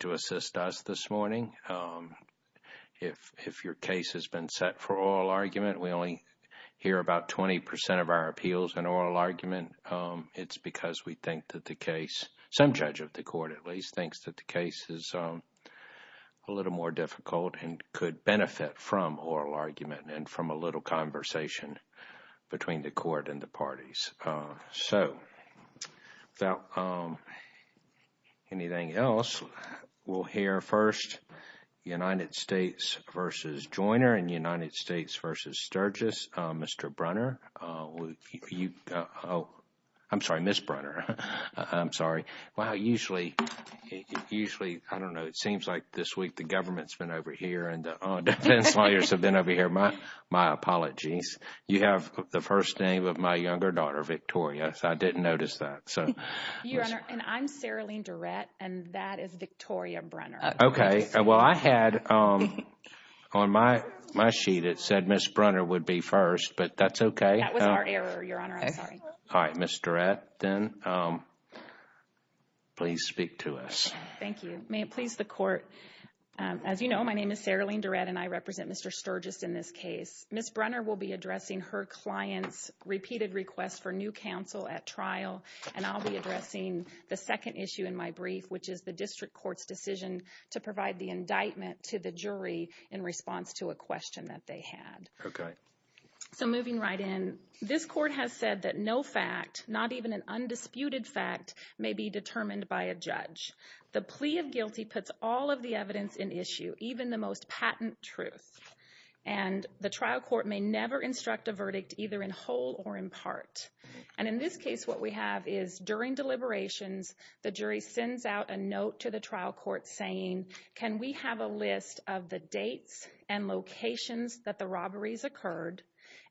to assist us this morning. If your case has been set for oral argument, we only hear about 20 percent of our appeals in oral argument. It's because we think that the case, some judge of the court at least, thinks that the case is a little more difficult and could benefit from oral argument and from a little conversation between the court and the parties. So, without further ado, anything else, we'll hear first United States v. Joyner and United States v. Sturgis. Mr. Brunner, I'm sorry, Ms. Brunner, I'm sorry. Usually, I don't know, it seems like this week the government's been over here and the defense lawyers have been over here. My apologies. You have the first name of my younger daughter, Victoria, so I didn't notice that. Your Honor, and I'm Saralene Durrett, and that is Victoria Brunner. Okay. Well, I had on my sheet, it said Ms. Brunner would be first, but that's okay. That was our error, Your Honor. I'm sorry. All right, Ms. Durrett, then please speak to us. Thank you. May it please the court, as you know, my name is Saralene Durrett, and I represent Mr. Sturgis in this case. Ms. Brunner will be addressing her client's counsel at trial, and I'll be addressing the second issue in my brief, which is the district court's decision to provide the indictment to the jury in response to a question that they had. Okay. So, moving right in, this court has said that no fact, not even an undisputed fact, may be determined by a judge. The plea of guilty puts all of the evidence in issue, even the most patent truth, and the trial court may never instruct a verdict, either in whole or in part. And in this case, what we have is during deliberations, the jury sends out a note to the trial court saying, can we have a list of the dates and locations that the robberies occurred?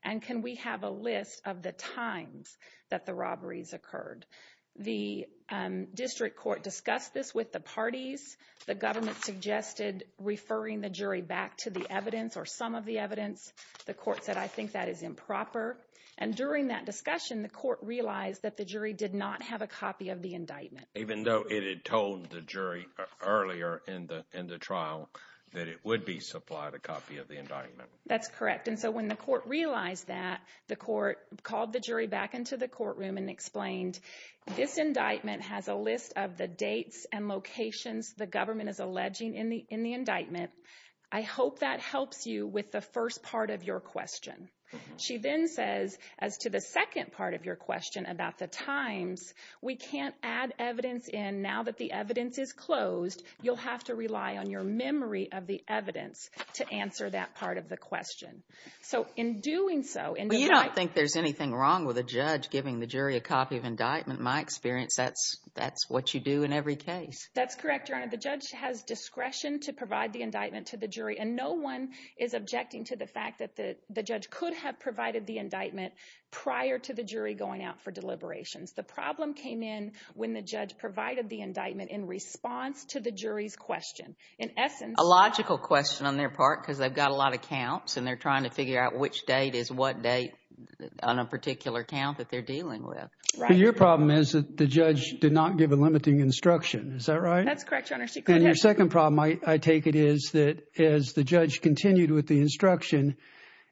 And can we have a list of the times that the robberies occurred? The district court discussed this with the parties. The government suggested referring the jury back to the evidence or some of the evidence. The court said, I think that is improper. And during that discussion, the court realized that the jury did not have a copy of the indictment. Even though it had told the jury earlier in the trial that it would be supplied a copy of the indictment. That's correct. And so, when the court realized that, the court called the jury back into the courtroom and explained, this indictment has a list of the dates and locations the government is alleging in the indictment. I hope that helps you with the first part of your question. She then says, as to the second part of your question about the times, we can't add evidence in now that the evidence is closed. You'll have to rely on your memory of the evidence to answer that part of the question. So, in doing so... Well, you don't think there's anything wrong with a judge giving the jury a copy of indictment. In my experience, that's what you do in every case. That's correct, Your Honor. The judge has discretion to provide the indictment to the jury, and no one is objecting to the fact that the judge could have provided the indictment prior to the jury going out for deliberations. The problem came in when the judge provided the indictment in response to the jury's question. In essence... A logical question on their part, because they've got a lot of counts, and they're trying to figure out which date is what date on a particular count that they're dealing with. But your problem is that the judge did not give a limiting instruction. Is that right? That's correct, Your Honor. And your second problem, I take it, is that as the judge continued with the instruction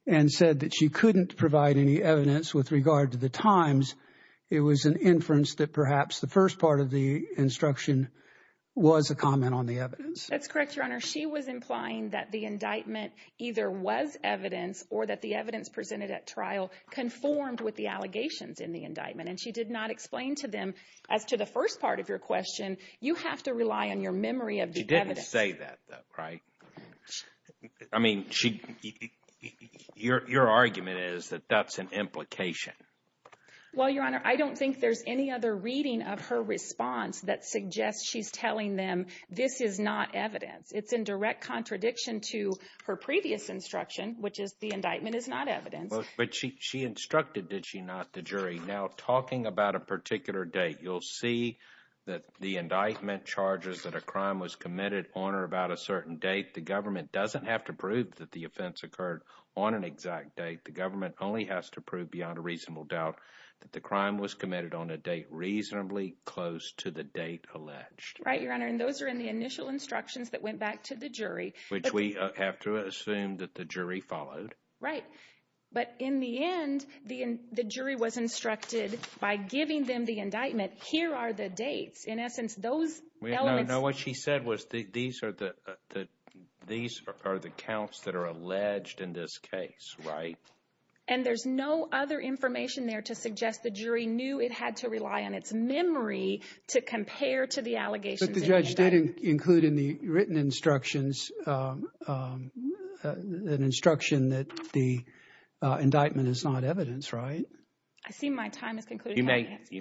and said that she couldn't provide any evidence with regard to the times, it was an inference that perhaps the first part of the instruction was a comment on the evidence. That's correct, Your Honor. She was implying that the indictment either was evidence or that the evidence presented at trial conformed with the allegations in the indictment. And she did not explain to them, as to the first part of your question, you have to rely on your memory of the evidence. She didn't say that, though, right? I mean, your argument is that that's an implication. Well, Your Honor, I don't think there's any other reading of her response that suggests she's telling them this is not evidence. It's in direct contradiction to her previous instruction, which is the indictment is not evidence. But she instructed, did she not, the jury. Now, talking about a particular date, you'll see that the indictment charges that a crime was committed on or about a certain date. The government doesn't have to prove that the offense occurred on an exact date. The government only has to prove beyond a reasonable doubt that the crime was committed on a date reasonably close to the date alleged. Right, Your Honor. And those are in the initial instructions that went back to the jury. Which we have to assume that the jury followed. Right. But in the end, the jury was instructed by giving them the indictment, here are the dates. In essence, those elements. No, what she said was these are the counts that are alleged in this case, right? And there's no other information there to suggest the jury knew it had to rely on its memory to compare to the allegations. But the judge did include in the written instructions an instruction that the indictment is not evidence, right? I see my time is concluding. You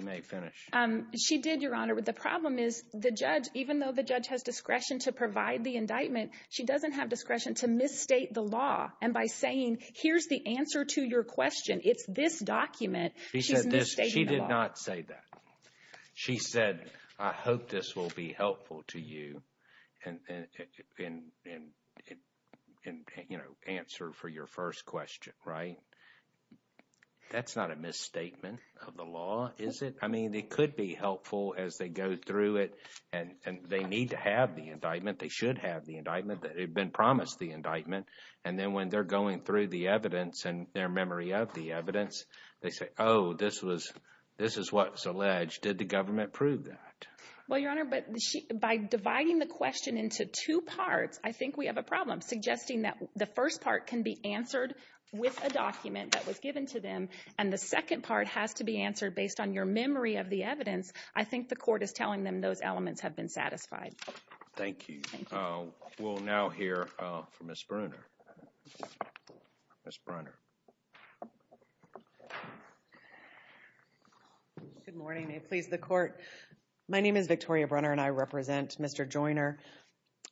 may finish. She did, Your Honor. But the problem is the judge, even though the judge has discretion to provide the indictment, she doesn't have discretion to misstate the law. And by saying here's the answer to your question, it's this document, she's misstating the law. She said, I hope this will be helpful to you in answer for your first question, right? That's not a misstatement of the law, is it? I mean, it could be helpful as they go through it and they need to have the indictment, they should have the indictment, that it had been promised, the indictment. And then when they're going through the evidence and their memory of the evidence, they say, oh, this is what's alleged. Did the government prove that? Well, Your Honor, by dividing the question into two parts, I think we have a problem suggesting that the first part can be answered with a document that was given to them. And the second part has to be answered based on your memory of the evidence. I think the court is telling them those elements have been satisfied. Thank you. We'll now hear from Ms. Brunner. Ms. Brunner. Good morning. May it please the court. My name is Victoria Brunner and I represent Mr. Joyner.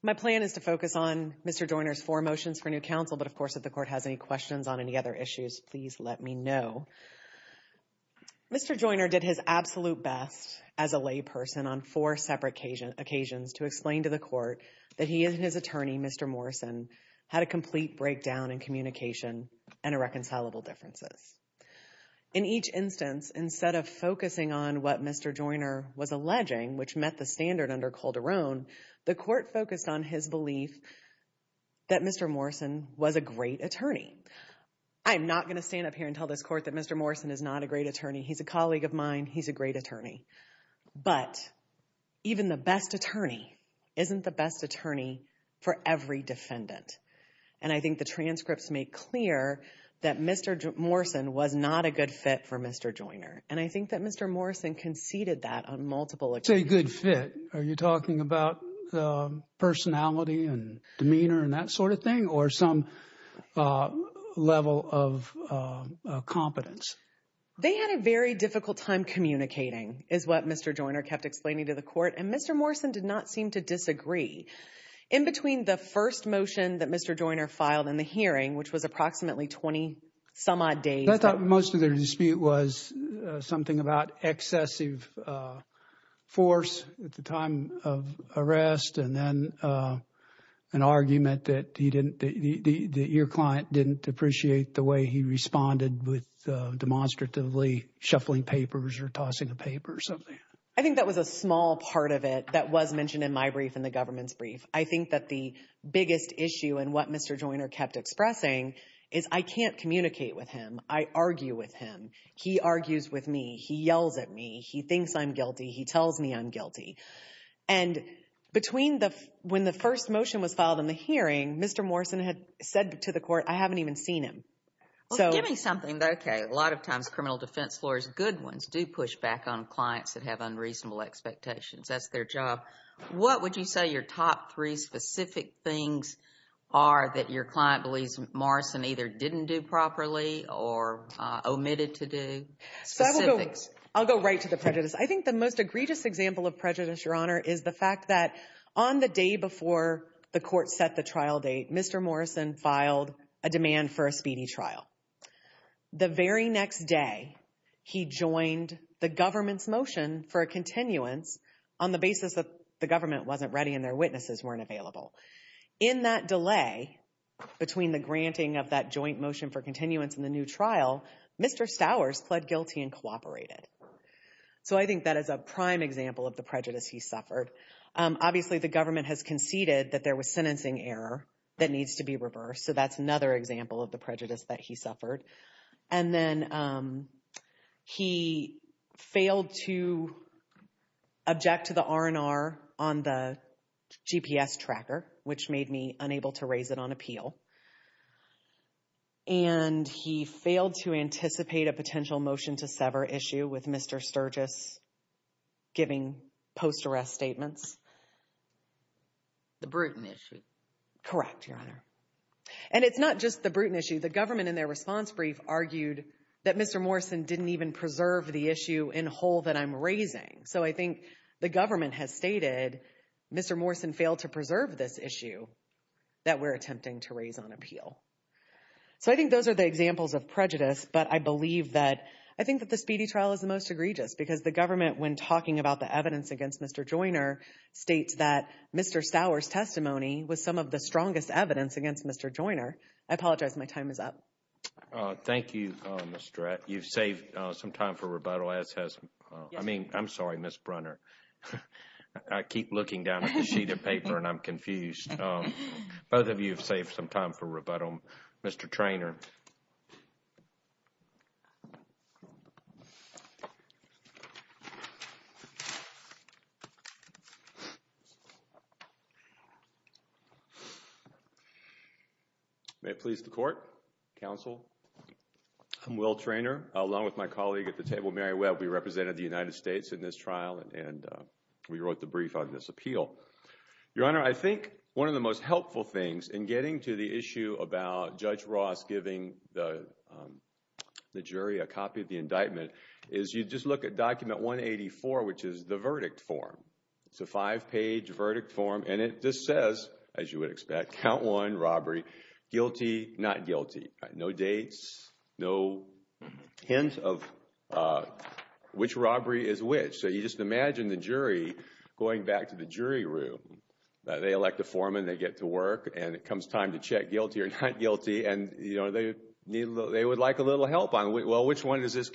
My plan is to focus on Mr. Joyner's four motions for new counsel. But of course, if the court has any questions on any other issues, please let me know. Mr. Joyner did his absolute best as a layperson on four separate occasions to explain to the court that he and his attorney, Mr. Morrison, had a complete breakdown in communication and irreconcilable differences. In each instance, instead of focusing on what Mr. Joyner was alleging, which met the standard under Calderon, the court focused on his belief that Mr. Morrison was a great attorney. I'm not going to stand up here and tell this court that Mr. Morrison is not a great attorney. He's a colleague of mine. He's a great attorney. But even the best attorney isn't the best attorney for every defendant. And I think the transcripts make clear that Mr. Morrison was not a good fit for Mr. Joyner. And I think that Mr. Morrison conceded that on multiple occasions. You say good fit. Are you talking about personality and demeanor and that sort of thing or some level of competence? They had a very difficult time communicating, is what Mr. Joyner kept explaining to the court. And Mr. Morrison did not seem to disagree. In between the first motion that Mr. Joyner filed in the hearing, which was approximately 20 some odd days. I thought most of their dispute was something about excessive force at the time of arrest. And then an argument that he didn't, that your client didn't appreciate the way he responded with demonstratively shuffling papers or tossing a paper or something. I think that was a small part of it that was mentioned in my brief and the government's brief. I think that the biggest issue and what Mr. Joyner kept expressing is I can't communicate with him. I argue with him. He argues with me. He yells at me. He thinks I'm guilty. He tells me I'm guilty. And between the, when the first motion was filed in the hearing, Mr. Morrison had said to the court, I haven't even seen him. So give me something. Okay. A lot of times criminal defense lawyers, good ones do push back on clients that have unreasonable expectations. That's their job. What would you say your top three specific things are that your client believes Morrison either didn't do properly or omitted to do? I'll go right to the prejudice. I think the most egregious example of prejudice, Your Honor, is the fact that on the day before the court set the trial date, Mr. Morrison filed a demand for a speedy trial. The very next day, he joined the government's motion for a continuance on the basis that the government wasn't ready and their witnesses weren't available. In that delay between the granting of that joint motion for continuance in the new trial, Mr. Stowers pled guilty and cooperated. So I think that is a prime example of the prejudice he suffered. Obviously, the government has conceded that there was sentencing error that needs to be reversed. So that's another example of the prejudice that he suffered. And then he failed to object to the R&R on the GPS tracker, which made me unable to raise it on appeal. And he failed to anticipate a potential motion to sever issue with Mr. Sturgis giving post-arrest statements. The Bruton issue. Correct, Your Honor. And it's not just the Bruton issue. The government, in their response brief, argued that Mr. Morrison didn't even preserve the issue in whole that I'm raising. So I think the government has stated, Mr. Morrison failed to preserve this issue that we're attempting to raise on appeal. So I think those are the examples of prejudice. But I believe that, I think that the speedy trial is the most egregious because the government, when talking about the evidence against Mr. Joyner, states that Mr. Stowers' testimony was some of the strongest evidence against Mr. Joyner. I apologize. My time is up. Thank you, Ms. Stratton. You've saved some time for rebuttal, as has, I mean, I'm sorry, Ms. Brunner. I keep looking down at the sheet of paper and I'm confused. Both of you have saved some time for rebuttal. Mr. Treanor. May it please the court, counsel. I'm Will Treanor, along with my colleague at the table, Mary Webb. We represented the United States in this trial and we wrote the brief on this appeal. Your Honor, I think one of the most helpful things in getting to the issue about Judge Ross giving the jury a copy of the indictment is you just look at document 184, which is the verdict form. It's a five-page verdict form and it just says, as you would expect, count one robbery, guilty, not guilty. No dates, no hint of which robbery is which. So you just imagine the jury going back to the jury room. They elect a foreman, they get to work, and it comes time to check guilty or not guilty and, you know, they would like a little help on, well, which one does this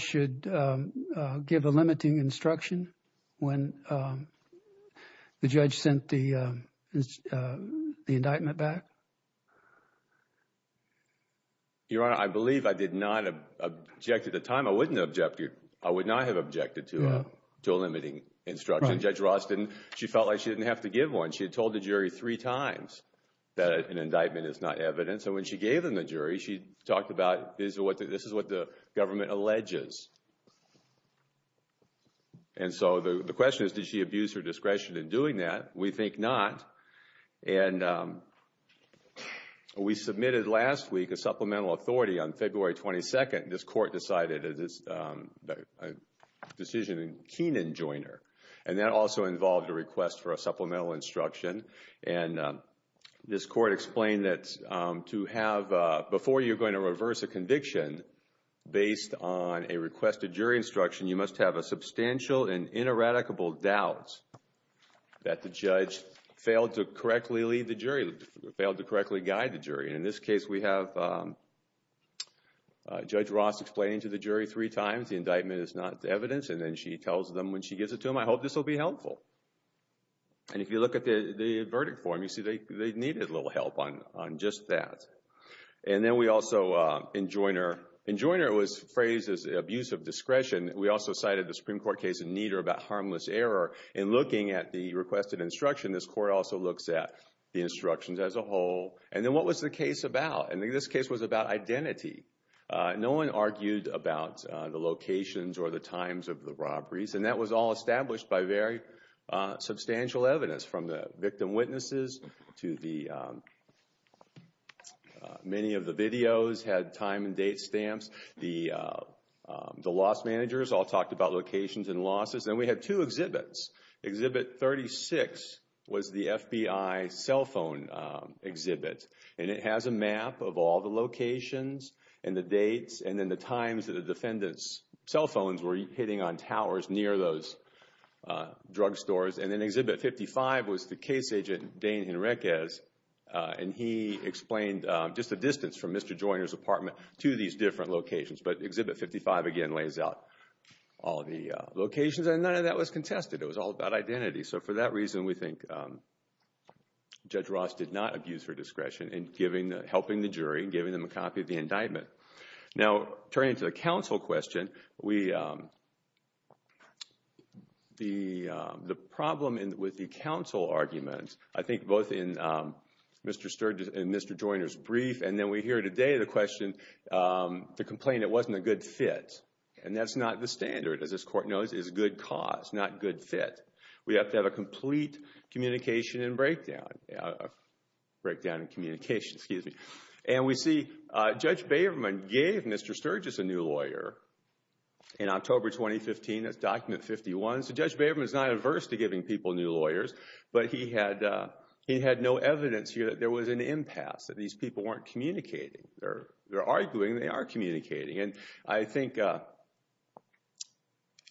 should give a limiting instruction when the judge sent the indictment back? Your Honor, I believe I did not object at the time. I wouldn't object. I would not have objected to a limiting instruction. Judge Ross didn't. She felt like she didn't have to give one. She had told the jury three times that an indictment is not evident. So when she gave them the jury, she alleges. And so the question is, did she abuse her discretion in doing that? We think not. And we submitted last week a supplemental authority on February 22nd. This court decided it is a decision in Keenan-Joiner, and that also involved a request for a supplemental instruction. And this court explained that to have, before you're going to reverse a conviction based on a requested jury instruction, you must have a substantial and ineradicable doubt that the judge failed to correctly lead the jury, failed to correctly guide the jury. In this case, we have Judge Ross explaining to the jury three times the indictment is not evidence, and then she tells them when she gives it to them, I hope this will be helpful. And if you look at the verdict form, you see they needed a little help on just that. And then we also, in Joiner, in Joiner it was phrased as abuse of discretion. We also cited the Supreme Court case in Nieder about harmless error. In looking at the requested instruction, this court also looks at the instructions as a whole. And then what was the case about? And this case was about identity. No one argued about the locations or the times of the robberies, and that was all established by very substantial evidence from the victim witnesses to the many of the videos had time and date stamps. The loss managers all talked about locations and losses. And we had two exhibits. Exhibit 36 was the FBI cell phone exhibit, and it has a map of all the locations and the dates and then the times that the defendant's cell phones were hitting on towers near those drug stores. And then Exhibit 55 was the case agent, Dane Henriquez, and he explained just the distance from Mr. Joiner's apartment to these different locations. But Exhibit 55 again lays out all the locations, and none of that was contested. It was all about identity. So for that reason, we think Judge Ross did not abuse her discretion in helping the jury, giving them a copy of the indictment. Now, turning to the counsel question, the problem with the counsel argument, I think both in Mr. Sturgis and Mr. Joiner's brief and then we hear today the question, the complaint, it wasn't a good fit. And that's not the standard, as this court knows, is good cause, not good fit. We have to have a complete communication and breakdown. Breakdown and communication, excuse me. And we see Judge Baverman gave Mr. Sturgis a new lawyer in October 2015. That's Document 51. So Judge Baverman is not averse to giving people new lawyers, but he had no evidence here that there was an impasse, that these people weren't communicating. They're arguing, they are communicating. And I think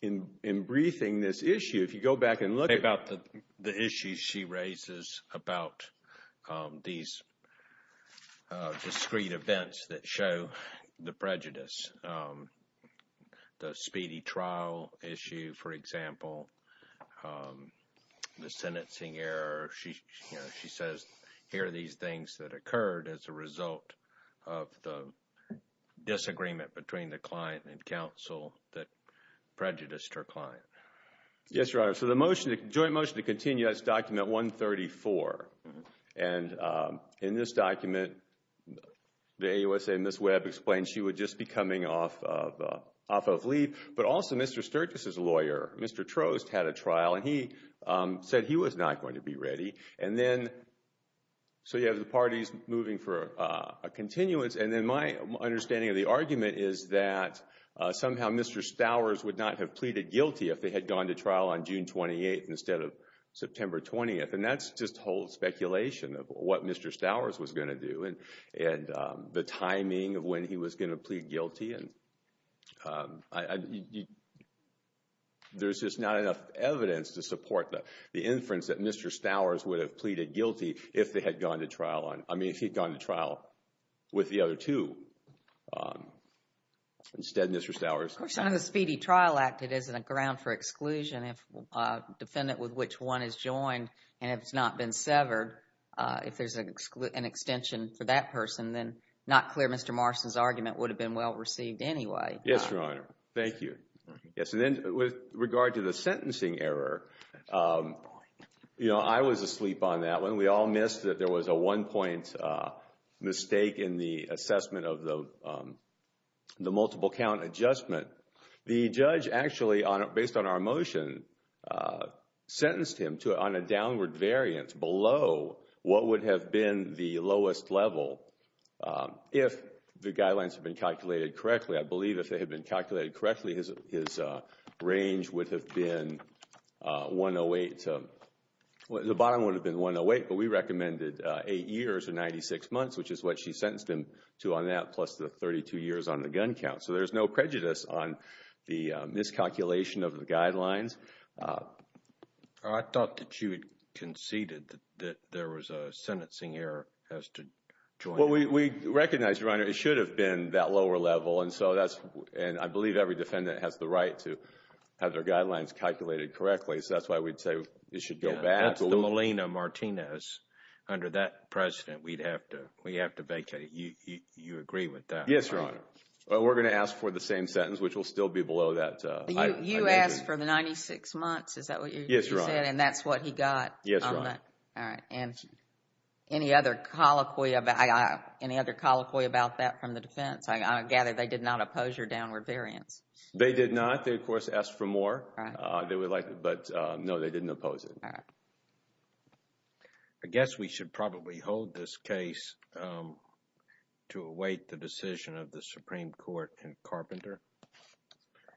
in briefing this issue, if you go back and look at the issues she raises about these discrete events that show the prejudice, the speedy trial issue, for example, the sentencing error, she says here are these things that occurred as a result of the disagreement between the client and counsel that prejudiced her client. Yes, Your Honor. So the motion, the joint motion to continue, that's Document 134. And in this document, the AUSA Ms. Webb explains she would just be coming off of leave. But also Mr. Sturgis' lawyer, Mr. Trost, had a trial and he said he was not going to be ready. And then, so you have the parties moving for a continuance. And then my understanding of the argument is that somehow Mr. Stowers would not have pleaded guilty if they had gone to trial on June 28th instead of September 20th. And that's just whole speculation of what Mr. Stowers was going to do and the timing of when he was going to plead guilty. And there's just not enough evidence to support the inference that Mr. Stowers would have pleaded guilty if they had gone to trial on, I mean, if he'd gone to trial with the other two instead of Mr. Stowers. Of course, the Speedy Trial Act, it isn't a ground for exclusion if a defendant with which one is joined and has not been severed. If there's an extension for that person, then not clear Mr. Marston's argument would have been well received anyway. Yes, Your Honor. Thank you. Yes, and then with regard to the sentencing error, you know, I was asleep on that one. We all missed that there was a one point mistake in the assessment of the multiple count adjustment. The judge actually, based on our motion, sentenced him on a downward variance below what would have been the lowest level if the guidelines had been calculated correctly. I believe if they had been calculated correctly, his range would have been 108. The bottom would have been 108, but we recommended 8 years or 96 months, which is what she sentenced him to on that plus the 32 years on the gun count. So there's no prejudice on the miscalculation of the guidelines. I thought that you had conceded that there was a sentencing error as to joining. Well, we recognize, Your Honor, it should have been that lower level, and so that's, and I believe every defendant has the right to have their guidelines calculated correctly. So that's why we'd say it should go back. The Molina-Martinez under that precedent, we'd have to vacate it. You agree with that? Yes, Your Honor. We're going to ask for the same sentence, which will still be below that. You asked for the 96 months. Is that what you said? And that's what he got? Yes, Your Honor. All right. And any other colloquy about that from the defense? I gather they did not oppose your downward variance. They did not. They, of course, asked for more. They would like, but no, they didn't oppose it. I guess we should probably hold this case to await the decision of the Supreme Court and Carpenter.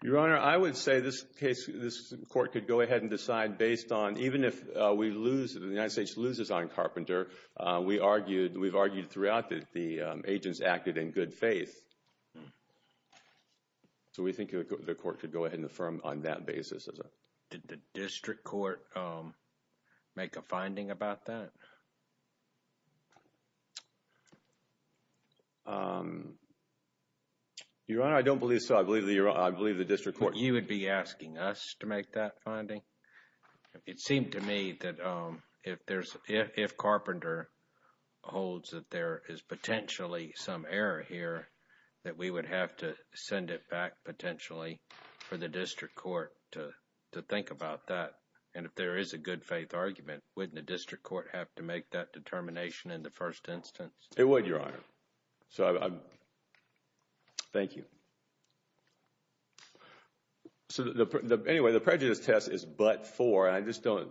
Your Honor, I would say this case, this court could go ahead and decide based on, even if we lose, if the United States loses on Carpenter, we argued, we've argued throughout that the Did the district court make a finding about that? Your Honor, I don't believe so. I believe the district court You would be asking us to make that finding? It seemed to me that if there's, if Carpenter holds that there is potentially some error here, that we would have to send it back potentially for the district court to think about that. And if there is a good faith argument, wouldn't the district court have to make that determination in the first instance? It would, Your Honor. So, thank you. So, anyway, the prejudice test is but for, I just don't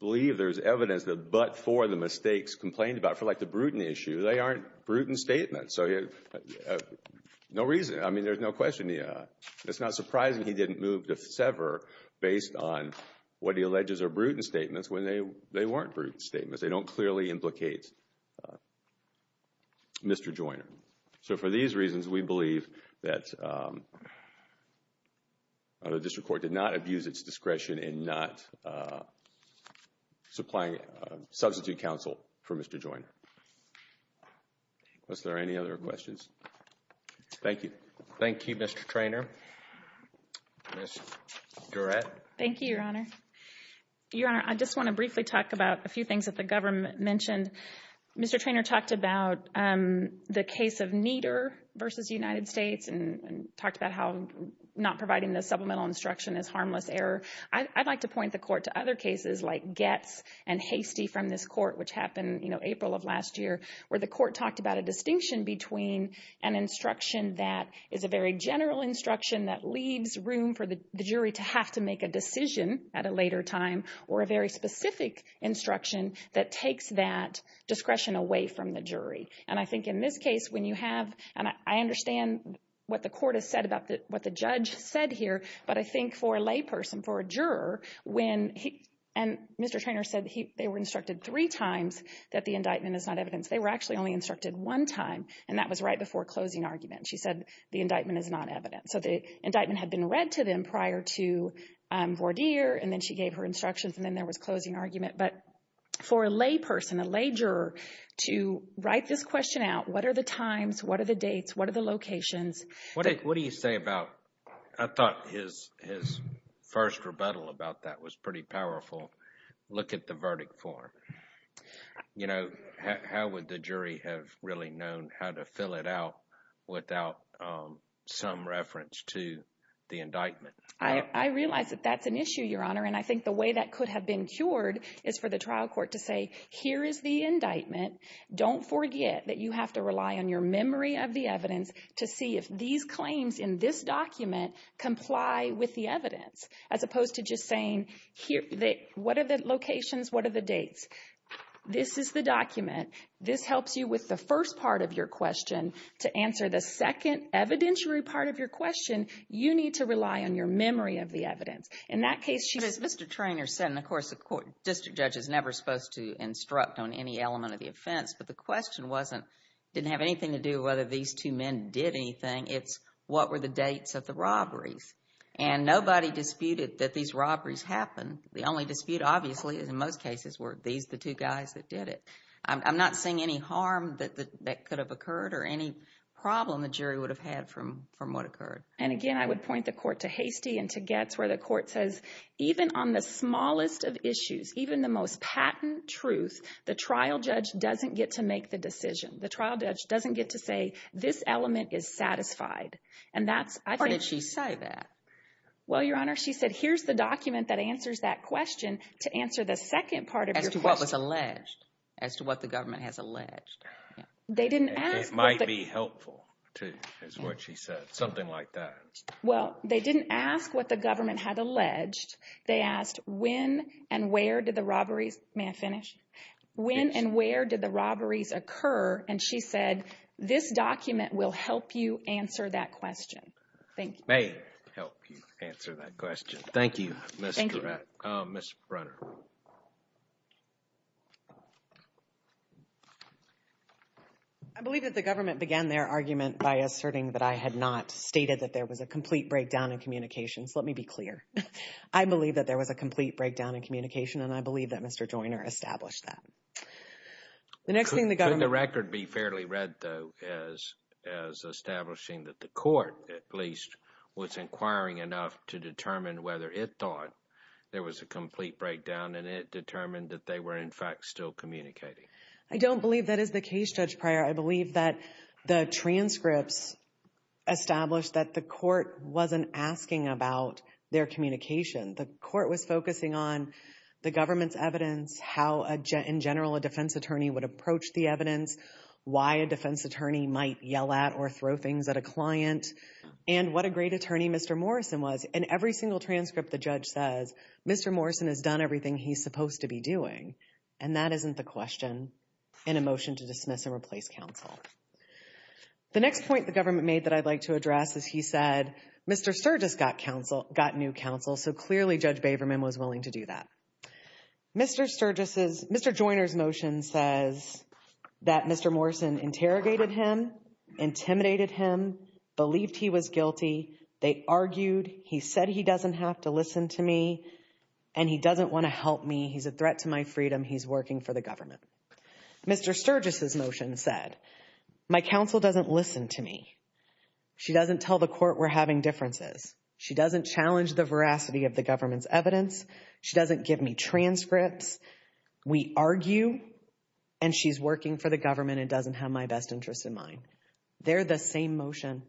believe there's evidence that but for the mistakes complained about, for like the Bruton issue, they aren't Bruton statements. So, there's no reason, I mean, there's no question. It's not surprising he didn't move to sever based on what he alleges are Bruton statements when they weren't Bruton statements. They don't clearly implicate Mr. Joyner. So, for these reasons, we believe that the district court did not abuse its discretion in not supplying substitute counsel for Mr. Joyner. Thank you. Was there any other questions? Thank you. Thank you, Mr. Treanor. Ms. Durrett. Thank you, Your Honor. Your Honor, I just want to briefly talk about a few things that the government mentioned. Mr. Treanor talked about the case of Nieder versus United States and talked about how not providing the supplemental instruction is harmless error. I'd like to point the court to other cases like Getz and Hastie from this court, which happened, you know, April of last year, where the court talked about a distinction between an instruction that is a very general instruction that leaves room for the jury to have to make a decision at a later time, or a very specific instruction that takes that discretion away from the jury. And I think in this case, when you have, and I understand what the court has said about what the judge said here, but I think for a lay person, for a juror, when he, and Mr. Treanor said they were instructed three times that the indictment is not evidence. They were actually only instructed one time, and that was right before closing argument. She said the indictment is not evidence. So the indictment had been read to them prior to Vourdier, and then she gave her instructions, and then there was closing argument. But for a lay person, a lay juror, to write this question out, what are the times, what are the dates, what are the locations? What do you say about, I thought his first rebuttal about that was pretty powerful. Look at the verdict form. You know, how would the jury have really known how to fill it out without some reference to the indictment? I realize that that's an issue, Your Honor, and I think the way that could have been cured is for the trial court to say, here is the indictment. Don't forget that you have to rely on your memory of the evidence to see if these claims in this document comply with the evidence, as opposed to just saying, here, what are the locations, what are the dates? This is the document. This helps you with the first part of your question. To answer the second evidentiary part of your question, you need to rely on your memory of the evidence. In that case, she But as Mr. Treanor said, and of course, a court district judge is never supposed to instruct on any element of the offense, but the question wasn't, didn't have anything to do with whether these two men did anything. It's what were the dates of the robberies? And nobody disputed that these robberies happened. The only dispute, obviously, is in most cases, were these the two guys that did it. I'm not seeing any harm that could have occurred or any problem the jury would have had from what occurred. And again, I would point the court to Hasty and to Getz, where the judge doesn't get to make the decision. The trial judge doesn't get to say, this element is satisfied. Or did she say that? Well, Your Honor, she said, here's the document that answers that question to answer the second part of your question. As to what was alleged, as to what the government has alleged. It might be helpful, too, is what she said, something like that. Well, they didn't ask what the government had alleged. They asked, when and where did the robberies, may I finish? When and where did the robberies occur? And she said, this document will help you answer that question. Thank you. May it help you answer that question. Thank you, Ms. Brunner. I believe that the government began their argument by asserting that I had not stated that there was a complete breakdown in communications. Let me be clear. I believe that there was a complete breakdown in communication, and I believe that Mr. Joyner established that. The next thing the government... Could the record be fairly read, though, as establishing that the court, at least, was inquiring enough to determine whether it thought there was a complete breakdown, and it determined that they were, in fact, still communicating? I don't believe that is the case, Judge Pryor. I believe that the transcripts established that the court wasn't asking about their communication. The court was focusing on the government's evidence, how, in general, a defense attorney would approach the evidence, why a defense attorney might yell at or throw things at a client, and what a great attorney Mr. Morrison was. In every single transcript, the judge says, Mr. Morrison has done everything he's supposed to be doing, and that isn't the question in a motion to dismiss and replace counsel. The next point the government made that I'd like to address is he said, Mr. Sturgis got counsel, got new counsel, so clearly Judge Baverman was willing to do that. Mr. Sturgis's... Mr. Joyner's motion says that Mr. Morrison interrogated him, intimidated him, believed he was guilty. They argued. He said he doesn't have to listen to me, and he doesn't want to help me. He's a threat to my freedom. He's working for the government. Mr. Sturgis's motion said my counsel doesn't listen to me. She doesn't tell the court we're having differences. She doesn't challenge the veracity of the government's evidence. She doesn't give me transcripts. We argue, and she's working for the government and doesn't have my best interests in mind. They're the same motion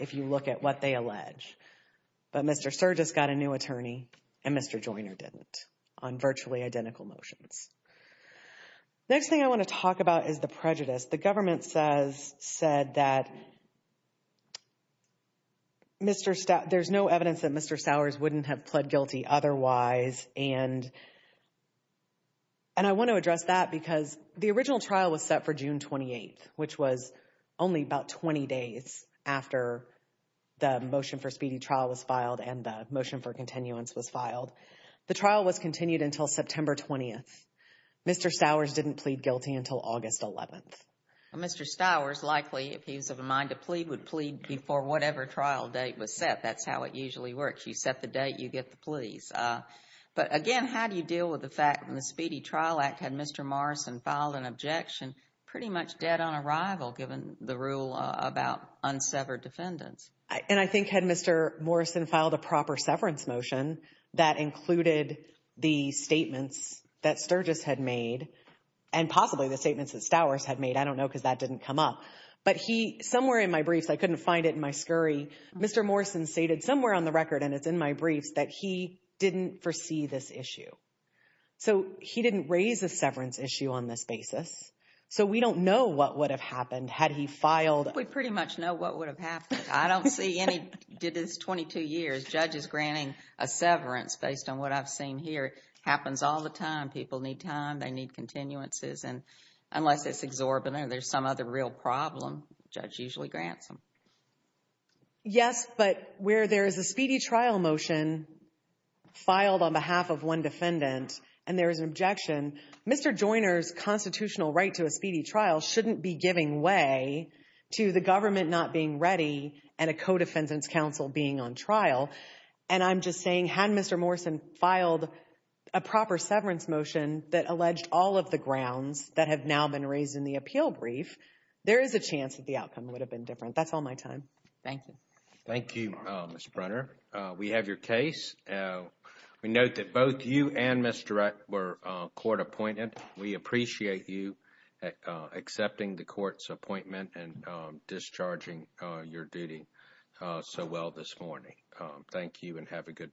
if you look at what they allege, but Mr. Sturgis got a new attorney, and Mr. Joyner didn't on virtually identical motions. Next thing I want to talk about is the prejudice. The government says said that Mr. Stowers... there's no evidence that Mr. Stowers wouldn't have pled guilty otherwise, and I want to address that because the original trial was set for June 28th, which was only about 20 days after the motion for speedy trial was filed and the motion for continuance was filed. The trial was continued until September 20th. Mr. Stowers didn't plead guilty until August 11th. Mr. Stowers likely, if he's of a mind to plead, would plead before whatever trial date was set. That's how it usually works. You set the date, you get the pleas. But again, how do you deal with the fact when the Speedy Trial Act had Mr. Morrison filed an objection pretty much dead on arrival given the rule about unsevered defendants? And I think had Mr. Morrison filed a proper severance motion that included the statements that Sturgis had made and possibly the statements that Stowers had made, I don't know because that didn't come up, but he somewhere in my briefs, I couldn't find it in my scurry, Mr. Morrison stated somewhere on the record and it's in my briefs that he didn't foresee this issue. So he didn't raise a severance issue on this basis. So we don't know what would have happened had he filed. We pretty much know what would have happened. I don't see did this 22 years. Judges granting a severance based on what I've seen here happens all the time. People need time, they need continuances, and unless it's exorbitant, there's some other real problem. Judge usually grants them. Yes, but where there is a speedy trial motion filed on behalf of one defendant and there is an objection, Mr. Joyner's constitutional right to a defendant's counsel being on trial, and I'm just saying had Mr. Morrison filed a proper severance motion that alleged all of the grounds that have now been raised in the appeal brief, there is a chance that the outcome would have been different. That's all my time. Thank you. Thank you, Mr. Brunner. We have your case. We note that both you and Mr. Rutt were court appointed. We appreciate you accepting the court's appointment and discharging your duty. So well this morning, thank you and have a good day.